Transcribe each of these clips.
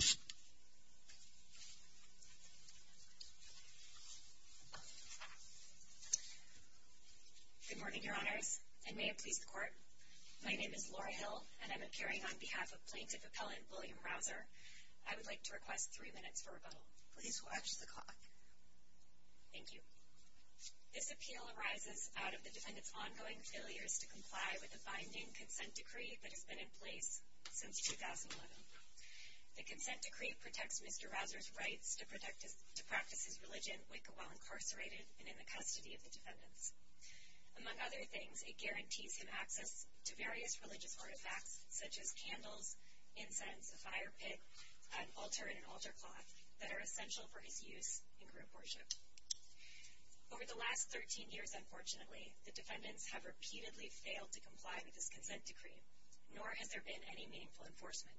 Good morning, Your Honors, and may it please the Court, my name is Laura Hill and I'm appearing on behalf of Plaintiff Appellant William Rouser. I would like to request three minutes for rebuttal. Please watch the clock. Thank you. This appeal arises out of the defendant's ongoing failures to comply with the binding consent decree that has been in place since 2011. The consent decree protects Mr. Rouser's rights to practice his religion while incarcerated and in the custody of the defendants. Among other things, it guarantees him access to various religious artifacts such as candles, incense, a fire pit, an altar and an altar cloth that are essential for his use in group worship. Over the last 13 years, unfortunately, the defendants have repeatedly failed to comply with this consent decree, nor has there been any meaningful enforcement.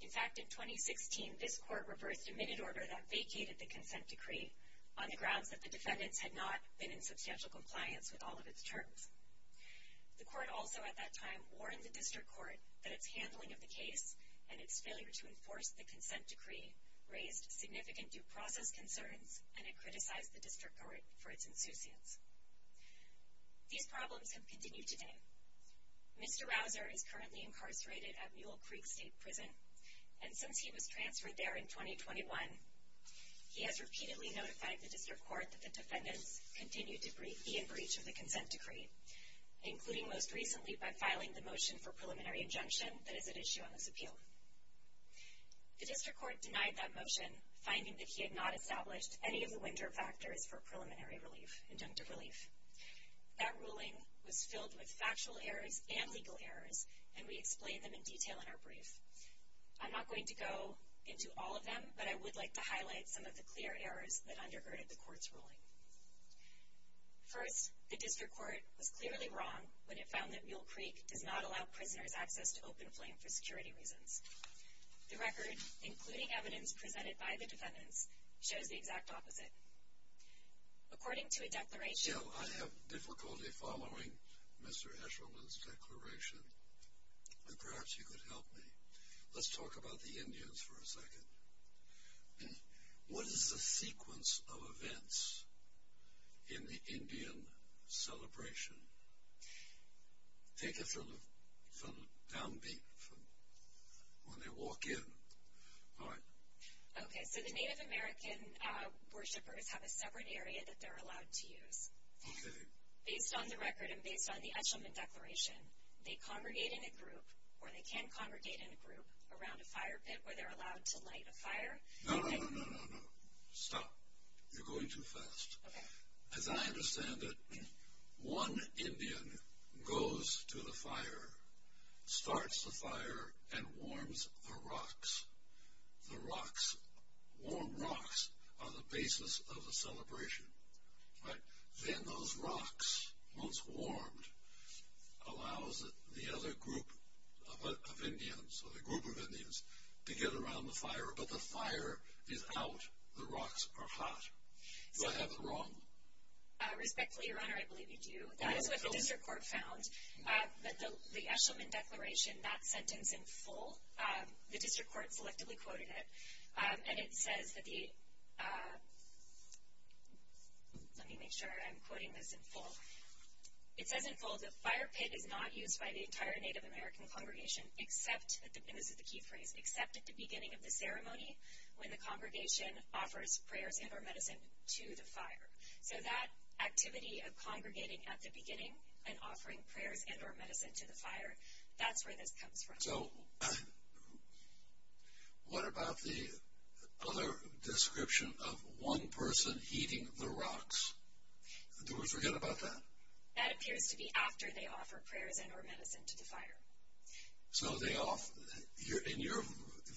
In fact, in 2016, this Court reversed a minute order that vacated the consent decree on the grounds that the defendants had not been in substantial compliance with all of its terms. The Court also at that time warned the District Court that its handling of the case and its failure to enforce the consent decree raised significant due process concerns and it criticized the District Court for its insouciance. These problems have continued today. Mr. Rouser is currently incarcerated at Mule Creek State Prison, and since he was transferred there in 2021, he has repeatedly notified the District Court that the defendants continued to be in breach of the consent decree, including most recently by filing the motion for preliminary injunction that is at issue on this appeal. The District Court denied that motion, finding that he had not established any of the winter factors for preliminary relief, injunctive relief. That ruling was filled with factual errors and legal errors, and we explain them in detail in our brief. I'm not going to go into all of them, but I would like to highlight some of the clear errors that undergirded the Court's ruling. First, the District Court was clearly wrong when it found that Mule Creek does not allow prisoners access to open flame for security reasons. The record, including evidence presented by the defendants, shows the exact opposite. According to a declaration... So, I have difficulty following Mr. Eshelman's declaration, and perhaps you could help me. Let's talk about the Indians for a second. What is the sequence of events in the Indian celebration? Take it from the downbeat, from when they walk in. All right. Okay, so the Native American worshippers have a separate area that they're allowed to use. Okay. Based on the record and based on the Eshelman declaration, they congregate in a group, or they can congregate in a group, around a fire pit where they're allowed to light a fire. No, no, no, no, no, no. Stop. You're going too fast. Okay. As I understand it, one Indian goes to the fire, starts the fire, and warms the rocks. The rocks, warm rocks, are the basis of the celebration. Right? Then those rocks, once warmed, allows the other group of Indians, or the group of Indians, to get around the fire, but the fire is out. The rocks are hot. Do I have it wrong? Respectfully, Your Honor, I believe you do. That is what the district court found. But the Eshelman declaration, that sentence in full, the district court selectively quoted it. And it says that the, let me make sure I'm quoting this in full. It says in full, the fire pit is not used by the entire Native American congregation except, and this is the key phrase, except at the beginning of the ceremony, when the congregation offers prayers and or medicine to the fire. So that activity of congregating at the beginning and offering prayers and or medicine to the fire, that's where this comes from. So what about the other description of one person heating the rocks? Do we forget about that? That appears to be after they offer prayers and or medicine to the fire. So they offer, in your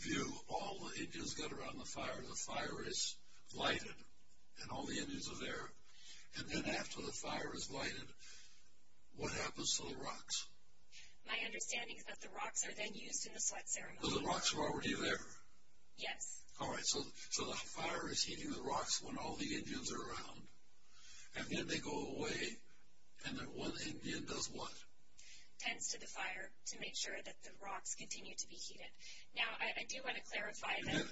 view, all the Indians get around the fire, the fire is lighted, and all the Indians are there, and then after the fire is lighted, what happens to the rocks? My understanding is that the rocks are then used in the sweat ceremony. So the rocks are already there? Yes. All right, so the fire is heating the rocks when all the Indians are around, and then they go away, and then one Indian does what? Tends to the fire to make sure that the rocks continue to be heated. Now, I do want to clarify that.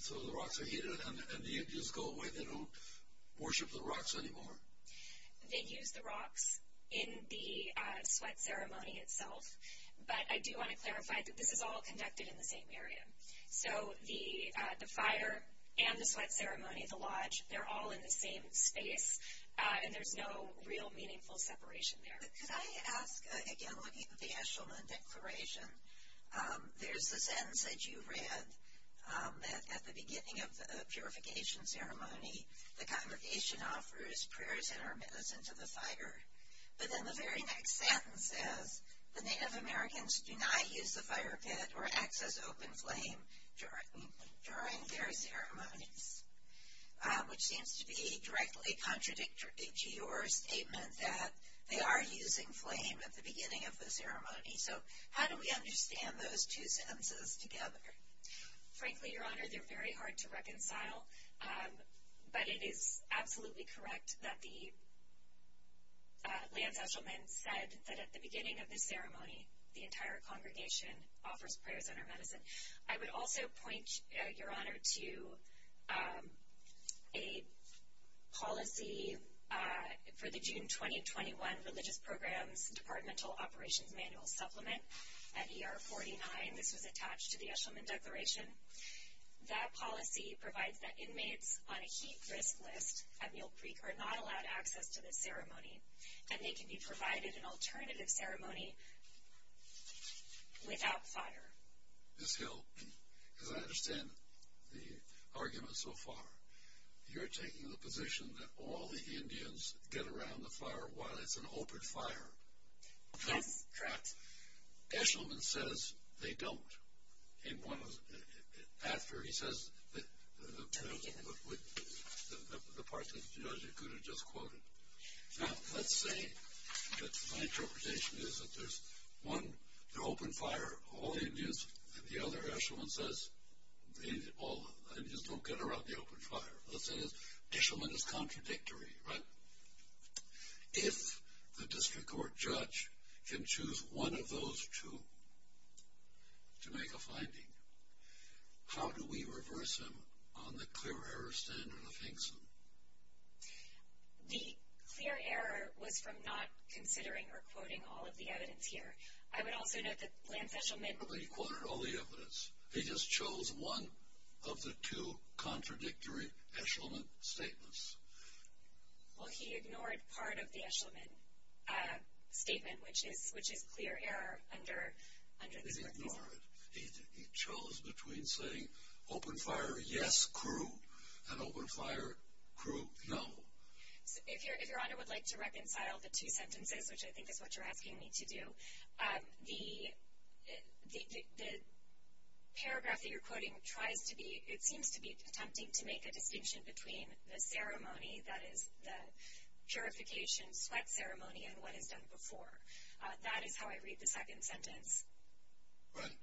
So the rocks are heated, and the Indians go away, they don't worship the rocks anymore? They use the rocks in the sweat ceremony itself, but I do want to clarify that this is all conducted in the same area. So the fire and the sweat ceremony, the lodge, they're all in the same space, and there's no real meaningful separation there. Could I ask, again, looking at the Eshelman Declaration, there's a sentence that you read that at the beginning of the purification ceremony, the congregation offers prayers and our medicine to the fire. But then the very next sentence says, the Native Americans do not use the fire pit or access open flame during their ceremonies, which seems to be directly contradictory to your statement that they are using flame at the beginning of the ceremony. So how do we understand those two sentences together? Frankly, Your Honor, they're very hard to reconcile, but it is absolutely correct that the land eshelman said that at the beginning of the ceremony, the entire congregation offers prayers and our medicine. I would also point, Your Honor, to a policy for the June 2021 Religious Programs Departmental Operations Manual Supplement at ER 49. This was attached to the Eshelman Declaration. That policy provides that inmates on a heat risk list at Mule Creek are not allowed access to the ceremony, and they can be provided an alternative ceremony without fire. Ms. Hill, as I understand the argument so far, you're taking the position that all the Indians get around the fire while it's an open fire. That's correct. Eshelman says they don't. After he says the part that Junot Jakuda just quoted. Now, let's say that my interpretation is that there's one open fire. All the Indians and the other Eshelman says all the Indians don't get around the open fire. Eshelman is contradictory, right? If the district court judge can choose one of those two to make a finding, how do we reverse him on the clear error standard of Hinkson? The clear error was from not considering or quoting all of the evidence here. I would also note that Lance Eshelman. But he quoted all the evidence. He just chose one of the two contradictory Eshelman statements. Well, he ignored part of the Eshelman statement, which is clear error under this court. He ignored it. He chose between saying open fire, yes, crew, and open fire, crew, no. If Your Honor would like to reconcile the two sentences, which I think is what you're asking me to do, the paragraph that you're quoting tries to be – it seems to be attempting to make a distinction between the ceremony, that is the purification, sweat ceremony, and what is done before. That is how I read the second sentence.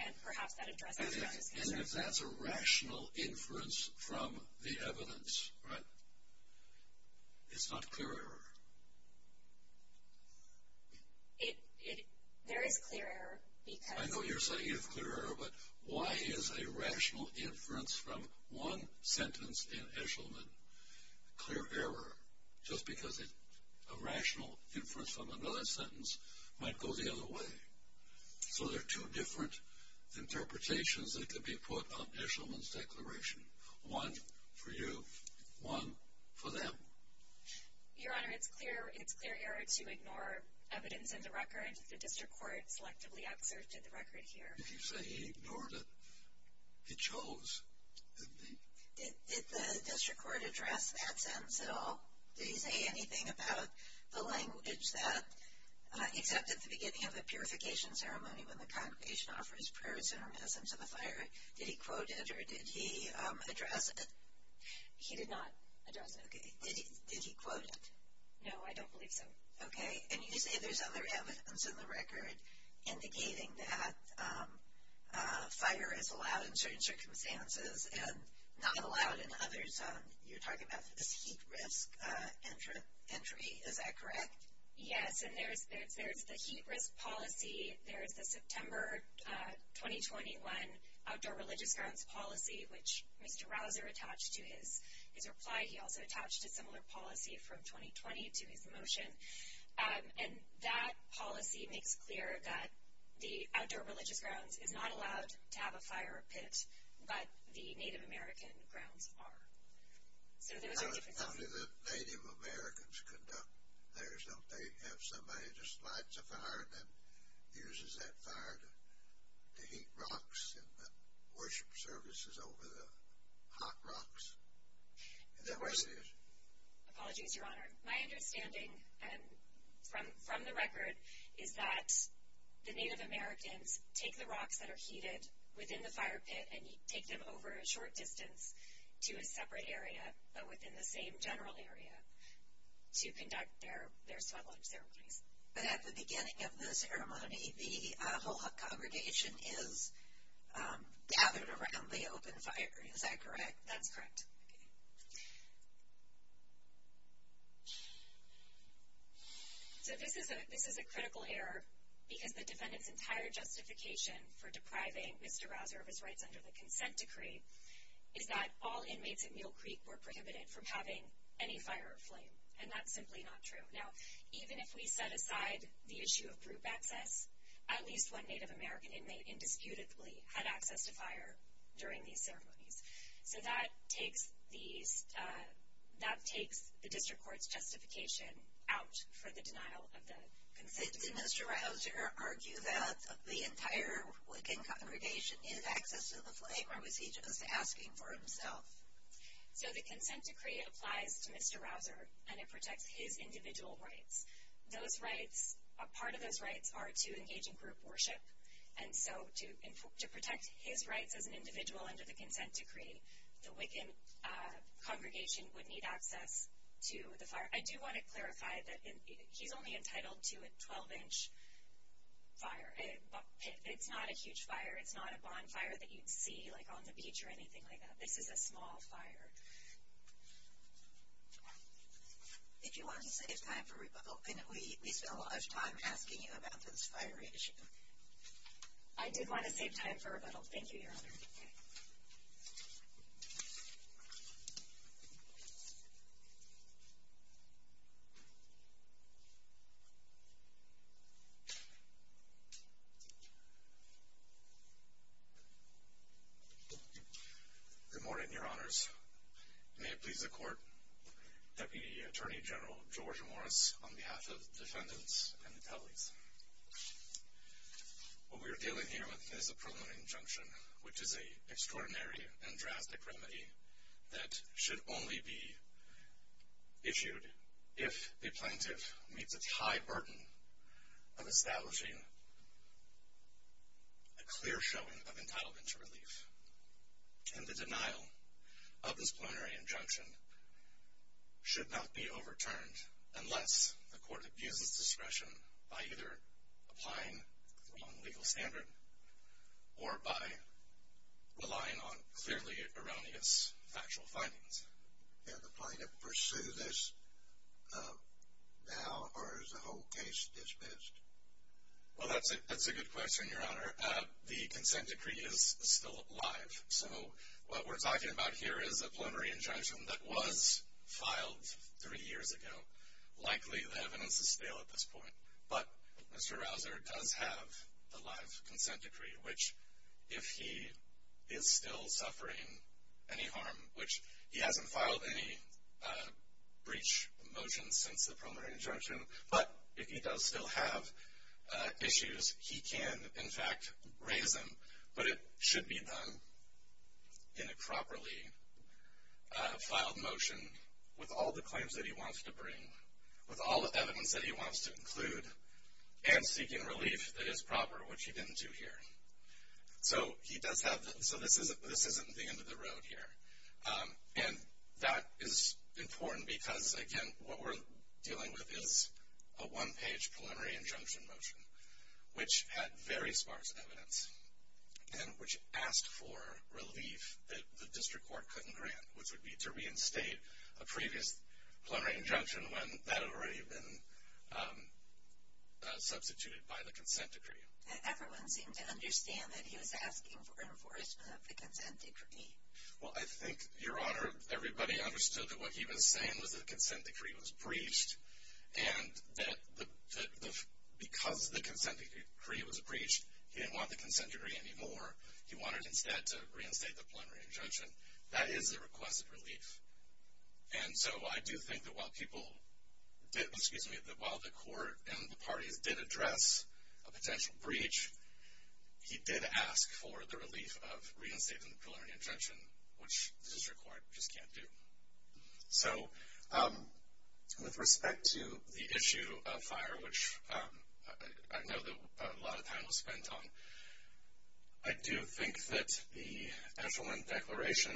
And perhaps that addresses Justice Ginsburg. And if that's a rational inference from the evidence, right, it's not clear error. There is clear error because – I know you're saying you have clear error, but why is a rational inference from one sentence in Eshelman clear error? Just because a rational inference from another sentence might go the other way. So there are two different interpretations that could be put on Eshelman's declaration. One for you, one for them. Your Honor, it's clear error to ignore evidence in the record. The district court selectively exerted the record here. Did you say he ignored it? He chose. Did the district court address that sentence at all? Did he say anything about the language that, except at the beginning of the purification ceremony when the congregation offers prayers and a message of the fire, did he quote it or did he address it? He did not address it. Okay. Did he quote it? No, I don't believe so. Okay. And you say there's other evidence in the record indicating that fire is allowed in certain circumstances and not allowed in others. You're talking about this heat risk entry. Is that correct? Yes, and there's the heat risk policy. There's the September 2021 Outdoor Religious Grounds policy, which Mr. Rauser attached to his reply. He also attached a similar policy from 2020 to his motion. And that policy makes clear that the Outdoor Religious Grounds is not allowed to have a fire pit, but the Native American grounds are. So those are different things. How do the Native Americans conduct theirs? Don't they have somebody that just lights a fire and then uses that fire to heat rocks and worship services over the hot rocks? Is that what it is? Apologies, Your Honor. And you take them over a short distance to a separate area, but within the same general area, to conduct their sweat lunch ceremonies. But at the beginning of the ceremony, the whole congregation is gathered around the open fire. Is that correct? That's correct. Okay. So this is a critical error because the defendant's entire justification for depriving Mr. Rauser of his rights under the consent decree is that all inmates at Mule Creek were prohibited from having any fire or flame, and that's simply not true. Now, even if we set aside the issue of group access, at least one Native American inmate indisputably had access to fire during these ceremonies. So that takes the district court's justification out for the denial of the consent decree. Did Mr. Rauser argue that the entire Wiccan congregation needed access to the flame, or was he just asking for himself? So the consent decree applies to Mr. Rauser, and it protects his individual rights. Part of those rights are to engage in group worship, and so to protect his rights as an individual under the consent decree, the Wiccan congregation would need access to the fire. I do want to clarify that he's only entitled to a 12-inch fire. It's not a huge fire. It's not a bonfire that you'd see, like, on the beach or anything like that. This is a small fire. If you want to save time for rebuttal, we spent a lot of time asking you about this fire issue. I did want to save time for rebuttal. Thank you, Your Honor. Good morning, Your Honors. May it please the Court, Deputy Attorney General George Morris, on behalf of the defendants and the tellies. What we are dealing here with is a preliminary injunction, which is an extraordinary and drastic remedy that should only be issued if the plaintiff meets its high burden of establishing a clear showing of entitlement to relief. And the denial of this preliminary injunction should not be overturned unless the court abuses discretion by either applying the wrong legal standard or by relying on clearly erroneous factual findings. Can the plaintiff pursue this now, or is the whole case dismissed? Well, that's a good question, Your Honor. The consent decree is still live. So what we're talking about here is a preliminary injunction that was filed three years ago. Likely the evidence is stale at this point. But Mr. Rausser does have the live consent decree, which, if he is still suffering any harm, which he hasn't filed any breach motions since the preliminary injunction, but if he does still have issues, he can, in fact, raise them. But it should be done in a properly filed motion with all the claims that he wants to bring, with all the evidence that he wants to include, and seeking relief that is proper, which he didn't do here. So this isn't the end of the road here. And that is important because, again, what we're dealing with is a one-page preliminary injunction motion, which had very sparse evidence and which asked for relief that the district court couldn't grant, which would be to reinstate a previous preliminary injunction when that had already been substituted by the consent decree. Everyone seemed to understand that he was asking for enforcement of the consent decree. Well, I think, Your Honor, everybody understood that what he was saying was that the consent decree was breached and that because the consent decree was breached, he didn't want the consent decree anymore. He wanted instead to reinstate the preliminary injunction. That is the request of relief. And so I do think that while people did, excuse me, that while the court and the parties did address a potential breach, he did ask for the relief of reinstating the preliminary injunction, which the district court just can't do. So with respect to the issue of fire, which I know that a lot of time was spent on, I do think that the Edgelwind Declaration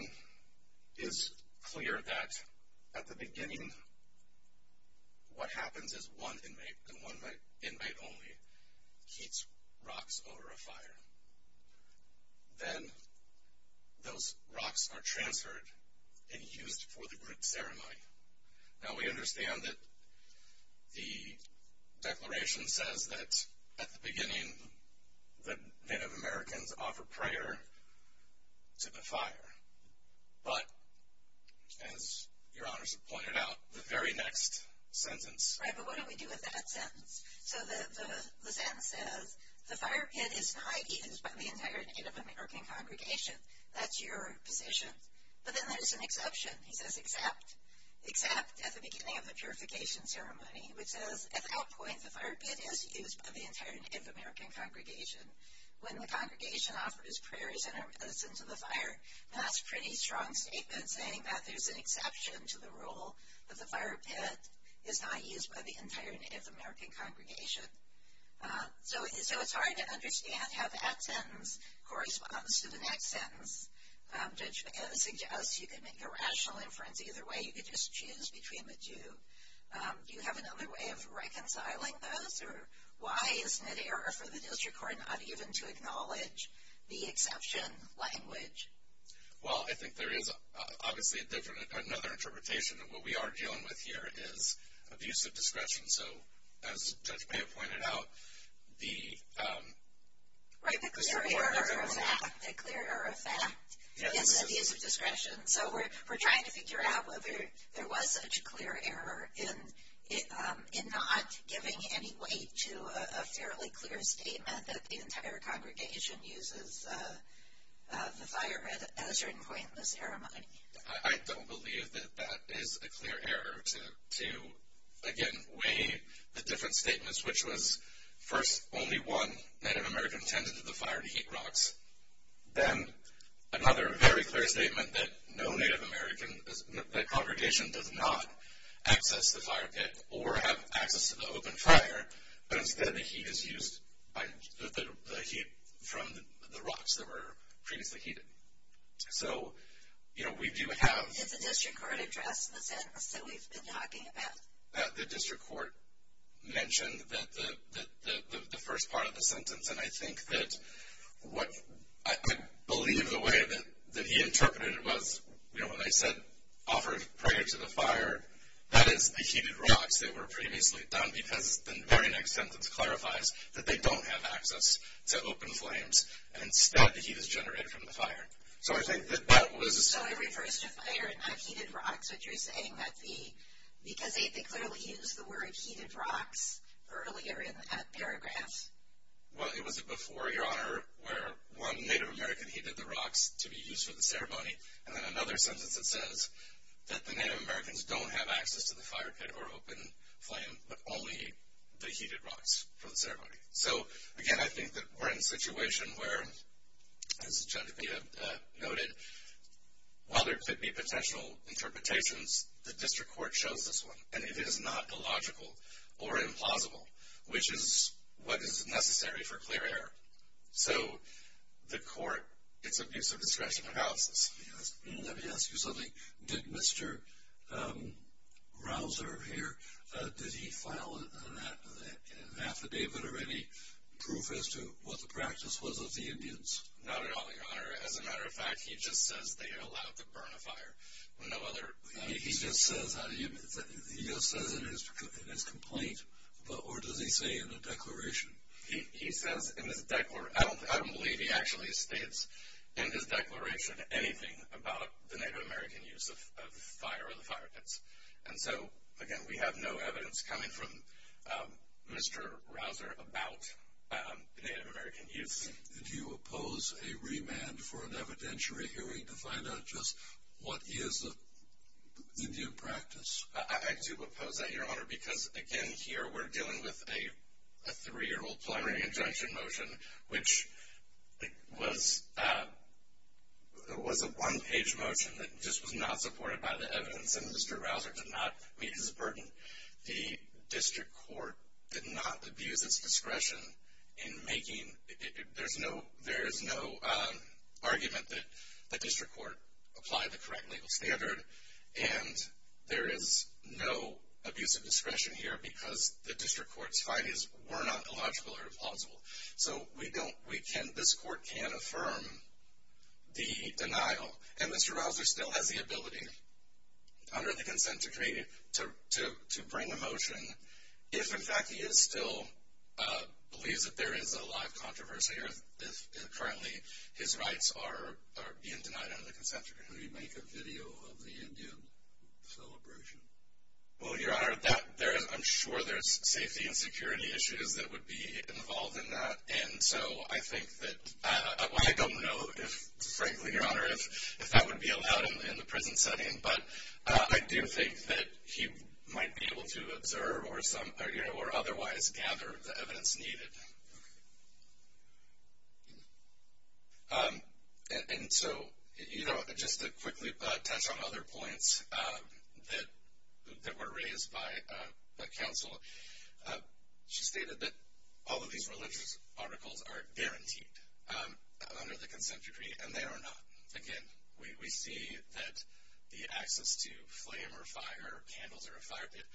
is clear that at the beginning, what happens is one inmate and one inmate only heats rocks over a fire. Then those rocks are transferred and used for the group ceremony. Now, we understand that the Declaration says that at the beginning, the Native Americans offer prayer to the fire. But as Your Honors have pointed out, the very next sentence. Right, but what do we do with that sentence? So the sentence says, the fire pit is not used by the entire Native American congregation. That's your position. But then there's an exception. He says, except at the beginning of the purification ceremony, which says, at that point, the fire pit is used by the entire Native American congregation. When the congregation offers prayers and are present to the fire, that's a pretty strong statement saying that there's an exception to the rule, that the fire pit is not used by the entire Native American congregation. So it's hard to understand how that sentence corresponds to the next sentence. Judge McKenna suggests you could make a rational inference either way. You could just choose between the two. Do you have another way of reconciling those? Or why isn't it error for the district court not even to acknowledge the exception language? Well, I think there is, obviously, another interpretation. What we are dealing with here is abuse of discretion. So as Judge Payne pointed out, the- Right, the clear error of fact. The clear error of fact is abuse of discretion. So we're trying to figure out whether there was such a clear error in not giving any weight to a fairly clear statement that the entire congregation uses the fire at a certain point in the ceremony. I don't believe that that is a clear error to, again, weigh the different statements, which was first, only one Native American attended the fire to heat rocks. Then, another very clear statement that no Native American, that congregation does not access the fire pit or have access to the open fire, but instead the heat is used from the rocks that were previously heated. So, you know, we do have- Did the district court address the sentence that we've been talking about? The district court mentioned the first part of the sentence. And I think that what- I believe the way that he interpreted it was, you know, what I said offered prior to the fire, that is the heated rocks that were previously done because the very next sentence clarifies that they don't have access to open flames, and instead the heat is generated from the fire. So I think that that was- So it refers to fire and not heated rocks, which you're saying that the- because they clearly used the word heated rocks earlier in that paragraph. Well, it was before, Your Honor, where one Native American heated the rocks to be used for the ceremony, and then another sentence that says that the Native Americans don't have access to the fire pit or open flame, but only the heated rocks for the ceremony. So, again, I think that we're in a situation where, as Judge Bia noted, while there could be potential interpretations, the district court chose this one, and it is not illogical or implausible, which is what is necessary for clear error. So the court gets abuse of discretion for analysis. Let me ask you something. Did Mr. Rausser here, did he file an affidavit or any proof as to what the practice was of the Indians? Not at all, Your Honor. As a matter of fact, he just says they allowed to burn a fire. No other- He just says in his complaint, or does he say in the declaration? He says in his declaration. I don't believe he actually states in his declaration anything about the Native American use of fire or the fire pits. And so, again, we have no evidence coming from Mr. Rausser about Native American use. Do you oppose a remand for an evidentiary hearing to find out just what is Indian practice? I do oppose that, Your Honor, because, again, here we're dealing with a three-year-old preliminary injunction motion, which was a one-page motion that just was not supported by the evidence, and Mr. Rausser did not meet his burden. The district court did not abuse its discretion in making- there is no argument that the district court applied the correct legal standard, and there is no abuse of discretion here because the district court's findings were not illogical or plausible. So we don't- we can't- this court can't affirm the denial, and Mr. Rausser still has the ability under the consent decree to bring a motion if, in fact, he is still- believes that there is a live controversy or if currently his rights are being denied under the consent decree. Can we make a video of the Indian celebration? Well, Your Honor, I'm sure there's safety and security issues that would be involved in that, and so I think that- well, I don't know if, frankly, Your Honor, if that would be allowed in the prison setting, but I do think that he might be able to observe or otherwise gather the evidence needed. And so just to quickly touch on other points that were raised by counsel, she stated that all of these religious articles are guaranteed under the consent decree, and they are not. Again, we see that the access to flame or fire, candles or a fire pit,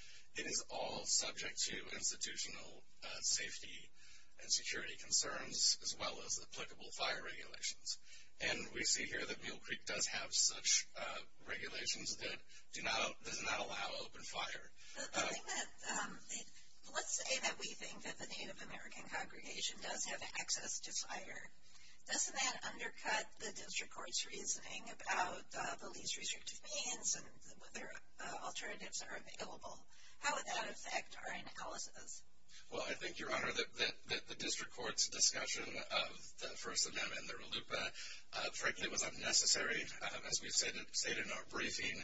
it is all subject to institutional safety and security concerns as well as applicable fire regulations. And we see here that Mill Creek does have such regulations that do not- does not allow open fire. The thing that- let's say that we think that the Native American congregation does have access to fire. Doesn't that undercut the district court's reasoning about the least restrictive means and whether alternatives are available? How would that affect our analysis? Well, I think, Your Honor, that the district court's discussion of the First Amendment and the RLUIPA, frankly, was unnecessary. As we've stated in our briefing,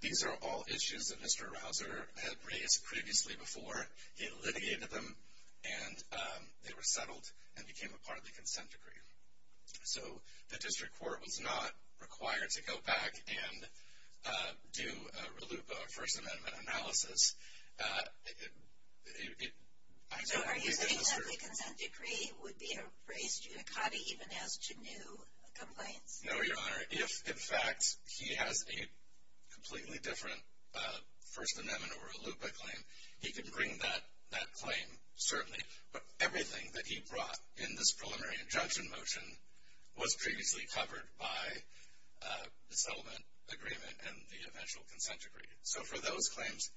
these are all issues that Mr. Rausser had raised previously before. He litigated them, and they were settled and became a part of the consent decree. So the district court was not required to go back and do a RLUIPA or First Amendment analysis. So are you saying that the consent decree would be a race judicata even as to new complaints? No, Your Honor. If, in fact, he has a completely different First Amendment or RLUIPA claim, he can bring that claim, certainly. But everything that he brought in this preliminary injunction motion was previously covered by the settlement agreement and the eventual consent decree. So for those claims,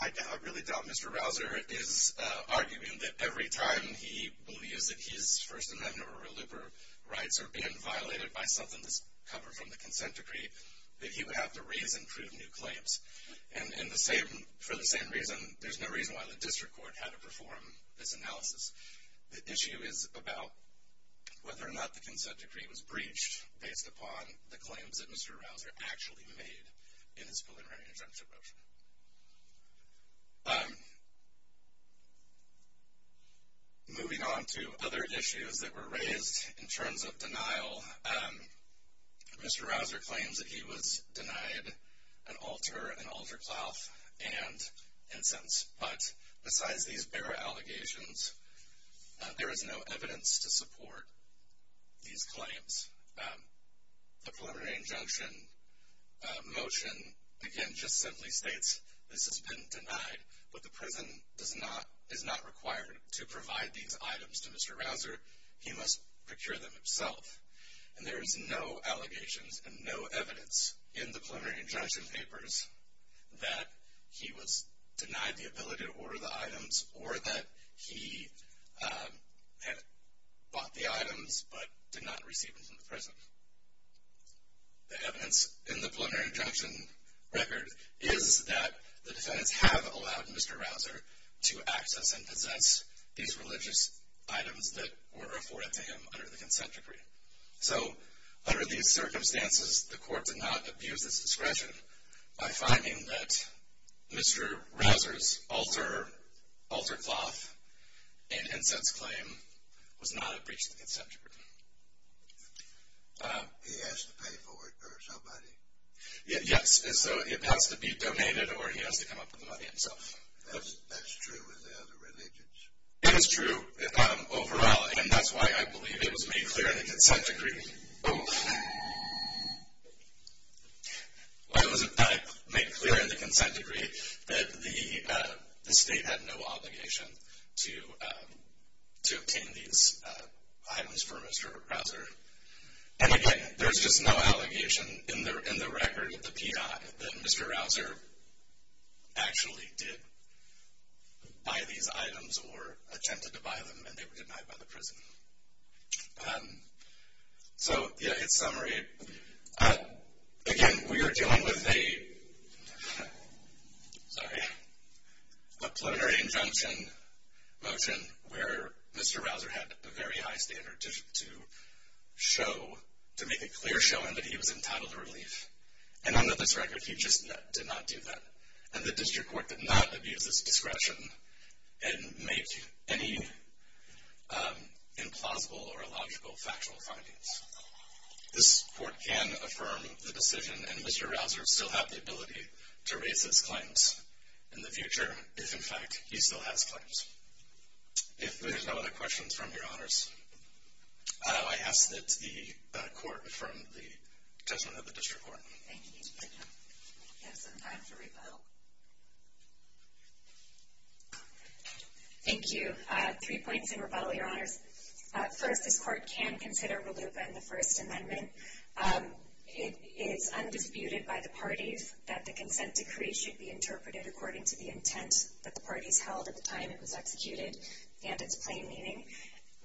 I really doubt Mr. Rausser is arguing that every time he believes that his First Amendment or RLUIPA rights are being violated by something that's covered from the consent decree, that he would have to raise and prove new claims. And for the same reason, there's no reason why the district court had to perform this analysis. The issue is about whether or not the consent decree was breached based upon the claims that Mr. Rausser actually made in his preliminary injunction motion. Moving on to other issues that were raised in terms of denial, Mr. Rausser claims that he was denied an altar, an altar cloth, and incense. But besides these bare allegations, there is no evidence to support these claims. The preliminary injunction motion, again, just simply states this has been denied. But the prison is not required to provide these items to Mr. Rausser. He must procure them himself. And there is no allegations and no evidence in the preliminary injunction papers that he was denied the ability to order the items or that he had bought the items but did not receive them from the prison. The evidence in the preliminary injunction record is that the defendants have allowed Mr. Rausser to access and possess these religious items that were afforded to him under the consent decree. So under these circumstances, the court did not abuse its discretion by finding that Mr. Rausser's altar, altar cloth, and incense claim was not a breach of the consent decree. He has to pay for it or somebody? Yes. So it has to be donated or he has to come up with the money himself. That's true in the other religions? It is true overall, and that's why I believe it was made clear in the consent decree. Oh. Why was it made clear in the consent decree that the state had no obligation to obtain these items for Mr. Rausser? And, again, there's just no allegation in the record of the PI that Mr. Rausser actually did buy these items or attempted to buy them and they were denied by the prison. So, yeah, in summary, again, we are dealing with a, sorry, a preliminary injunction motion where Mr. Rausser had a very high standard to show, to make a clear showing that he was entitled to relief. And under this record, he just did not do that. And the district court did not abuse its discretion and make any implausible or illogical factual findings. This court can affirm the decision, and Mr. Rausser still has the ability to raise his claims in the future if, in fact, he still has claims. If there's no other questions from your honors, I ask that the court affirm the judgment of the district court. Thank you. We have some time for rebuttal. Thank you. Three points in rebuttal, your honors. First, this court can consider RLUIPA in the First Amendment. It is undisputed by the parties that the consent decree should be interpreted according to the intent that the parties held at the time it was executed and its plain meaning.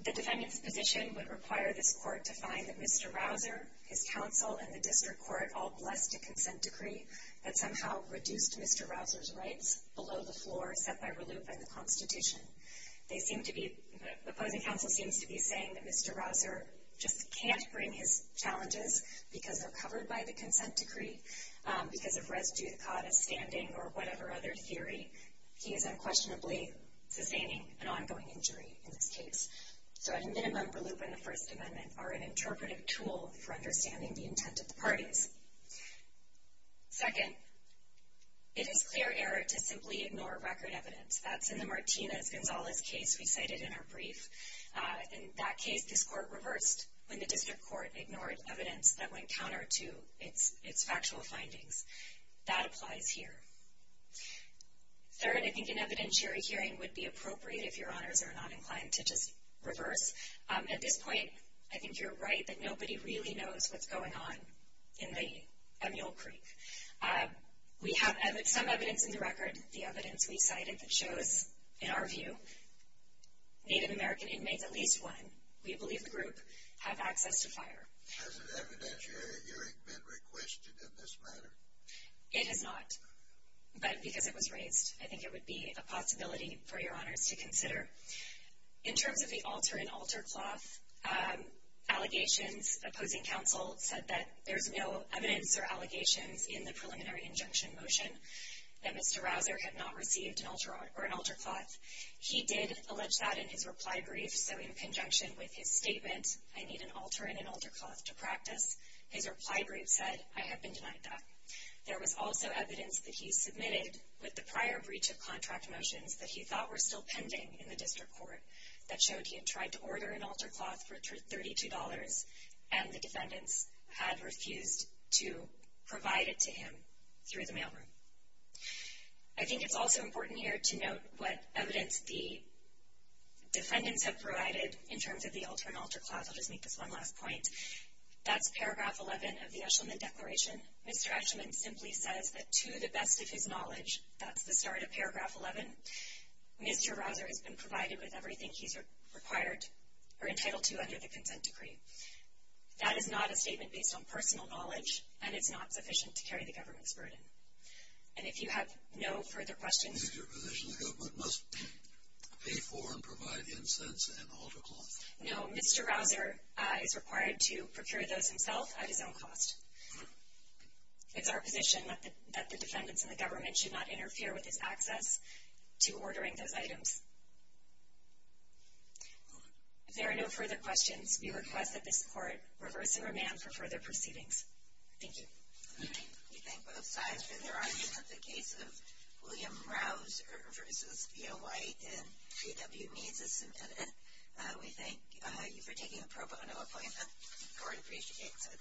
The defendant's position would require this court to find that Mr. Rausser, his counsel, and the district court all blessed a consent decree that somehow reduced Mr. Rausser's rights below the floor set by RLUIPA and the Constitution. The opposing counsel seems to be saying that Mr. Rausser just can't bring his challenges because they're covered by the consent decree because of res judicata standing or whatever other theory. He is unquestionably sustaining an ongoing injury in this case. So, at a minimum, RLUIPA and the First Amendment are an interpretive tool for understanding the intent of the parties. Second, it is clear error to simply ignore record evidence. That's in the Martinez-Gonzalez case we cited in our brief. In that case, this court reversed when the district court ignored evidence that went counter to its factual findings. That applies here. Third, I think an evidentiary hearing would be appropriate if your honors are not inclined to just reverse. At this point, I think you're right that nobody really knows what's going on in the Emule Creek. We have some evidence in the record, the evidence we cited, that shows, in our view, Native American inmates, at least one, we believe the group, have access to fire. Has an evidentiary hearing been requested in this matter? It has not, but because it was raised, I think it would be a possibility for your honors to consider. In terms of the alter and alter cloth, allegations, opposing counsel said that there's no evidence or allegations in the preliminary injunction motion that Mr. Rouser had not received an alter cloth. He did allege that in his reply brief, so in conjunction with his statement, I need an alter and an alter cloth to practice, his reply brief said, I have been denied that. There was also evidence that he submitted with the prior breach of contract motions that he thought were still pending in the district court that showed he had tried to order an alter cloth for $32, and the defendants had refused to provide it to him through the mailroom. I think it's also important here to note what evidence the defendants have provided in terms of the alter and alter cloth. I'll just make this one last point. That's paragraph 11 of the Eshleman Declaration. Mr. Eshleman simply says that to the best of his knowledge, that's the start of paragraph 11, Mr. Rouser has been provided with everything he's required or entitled to under the consent decree. That is not a statement based on personal knowledge, and it's not sufficient to carry the government's burden. And if you have no further questions. Is it your position the government must pay for and provide incense and alter cloth? No, Mr. Rouser is required to procure those himself at his own cost. It's our position that the defendants and the government should not interfere with his access to ordering those items. If there are no further questions, we request that this court reverse and remand for further proceedings. Thank you. We thank both sides for their arguments. The case of William Rouser v. Theo White in GW Needs is submitted. We thank you for taking the pro bono appointment. The court appreciates it.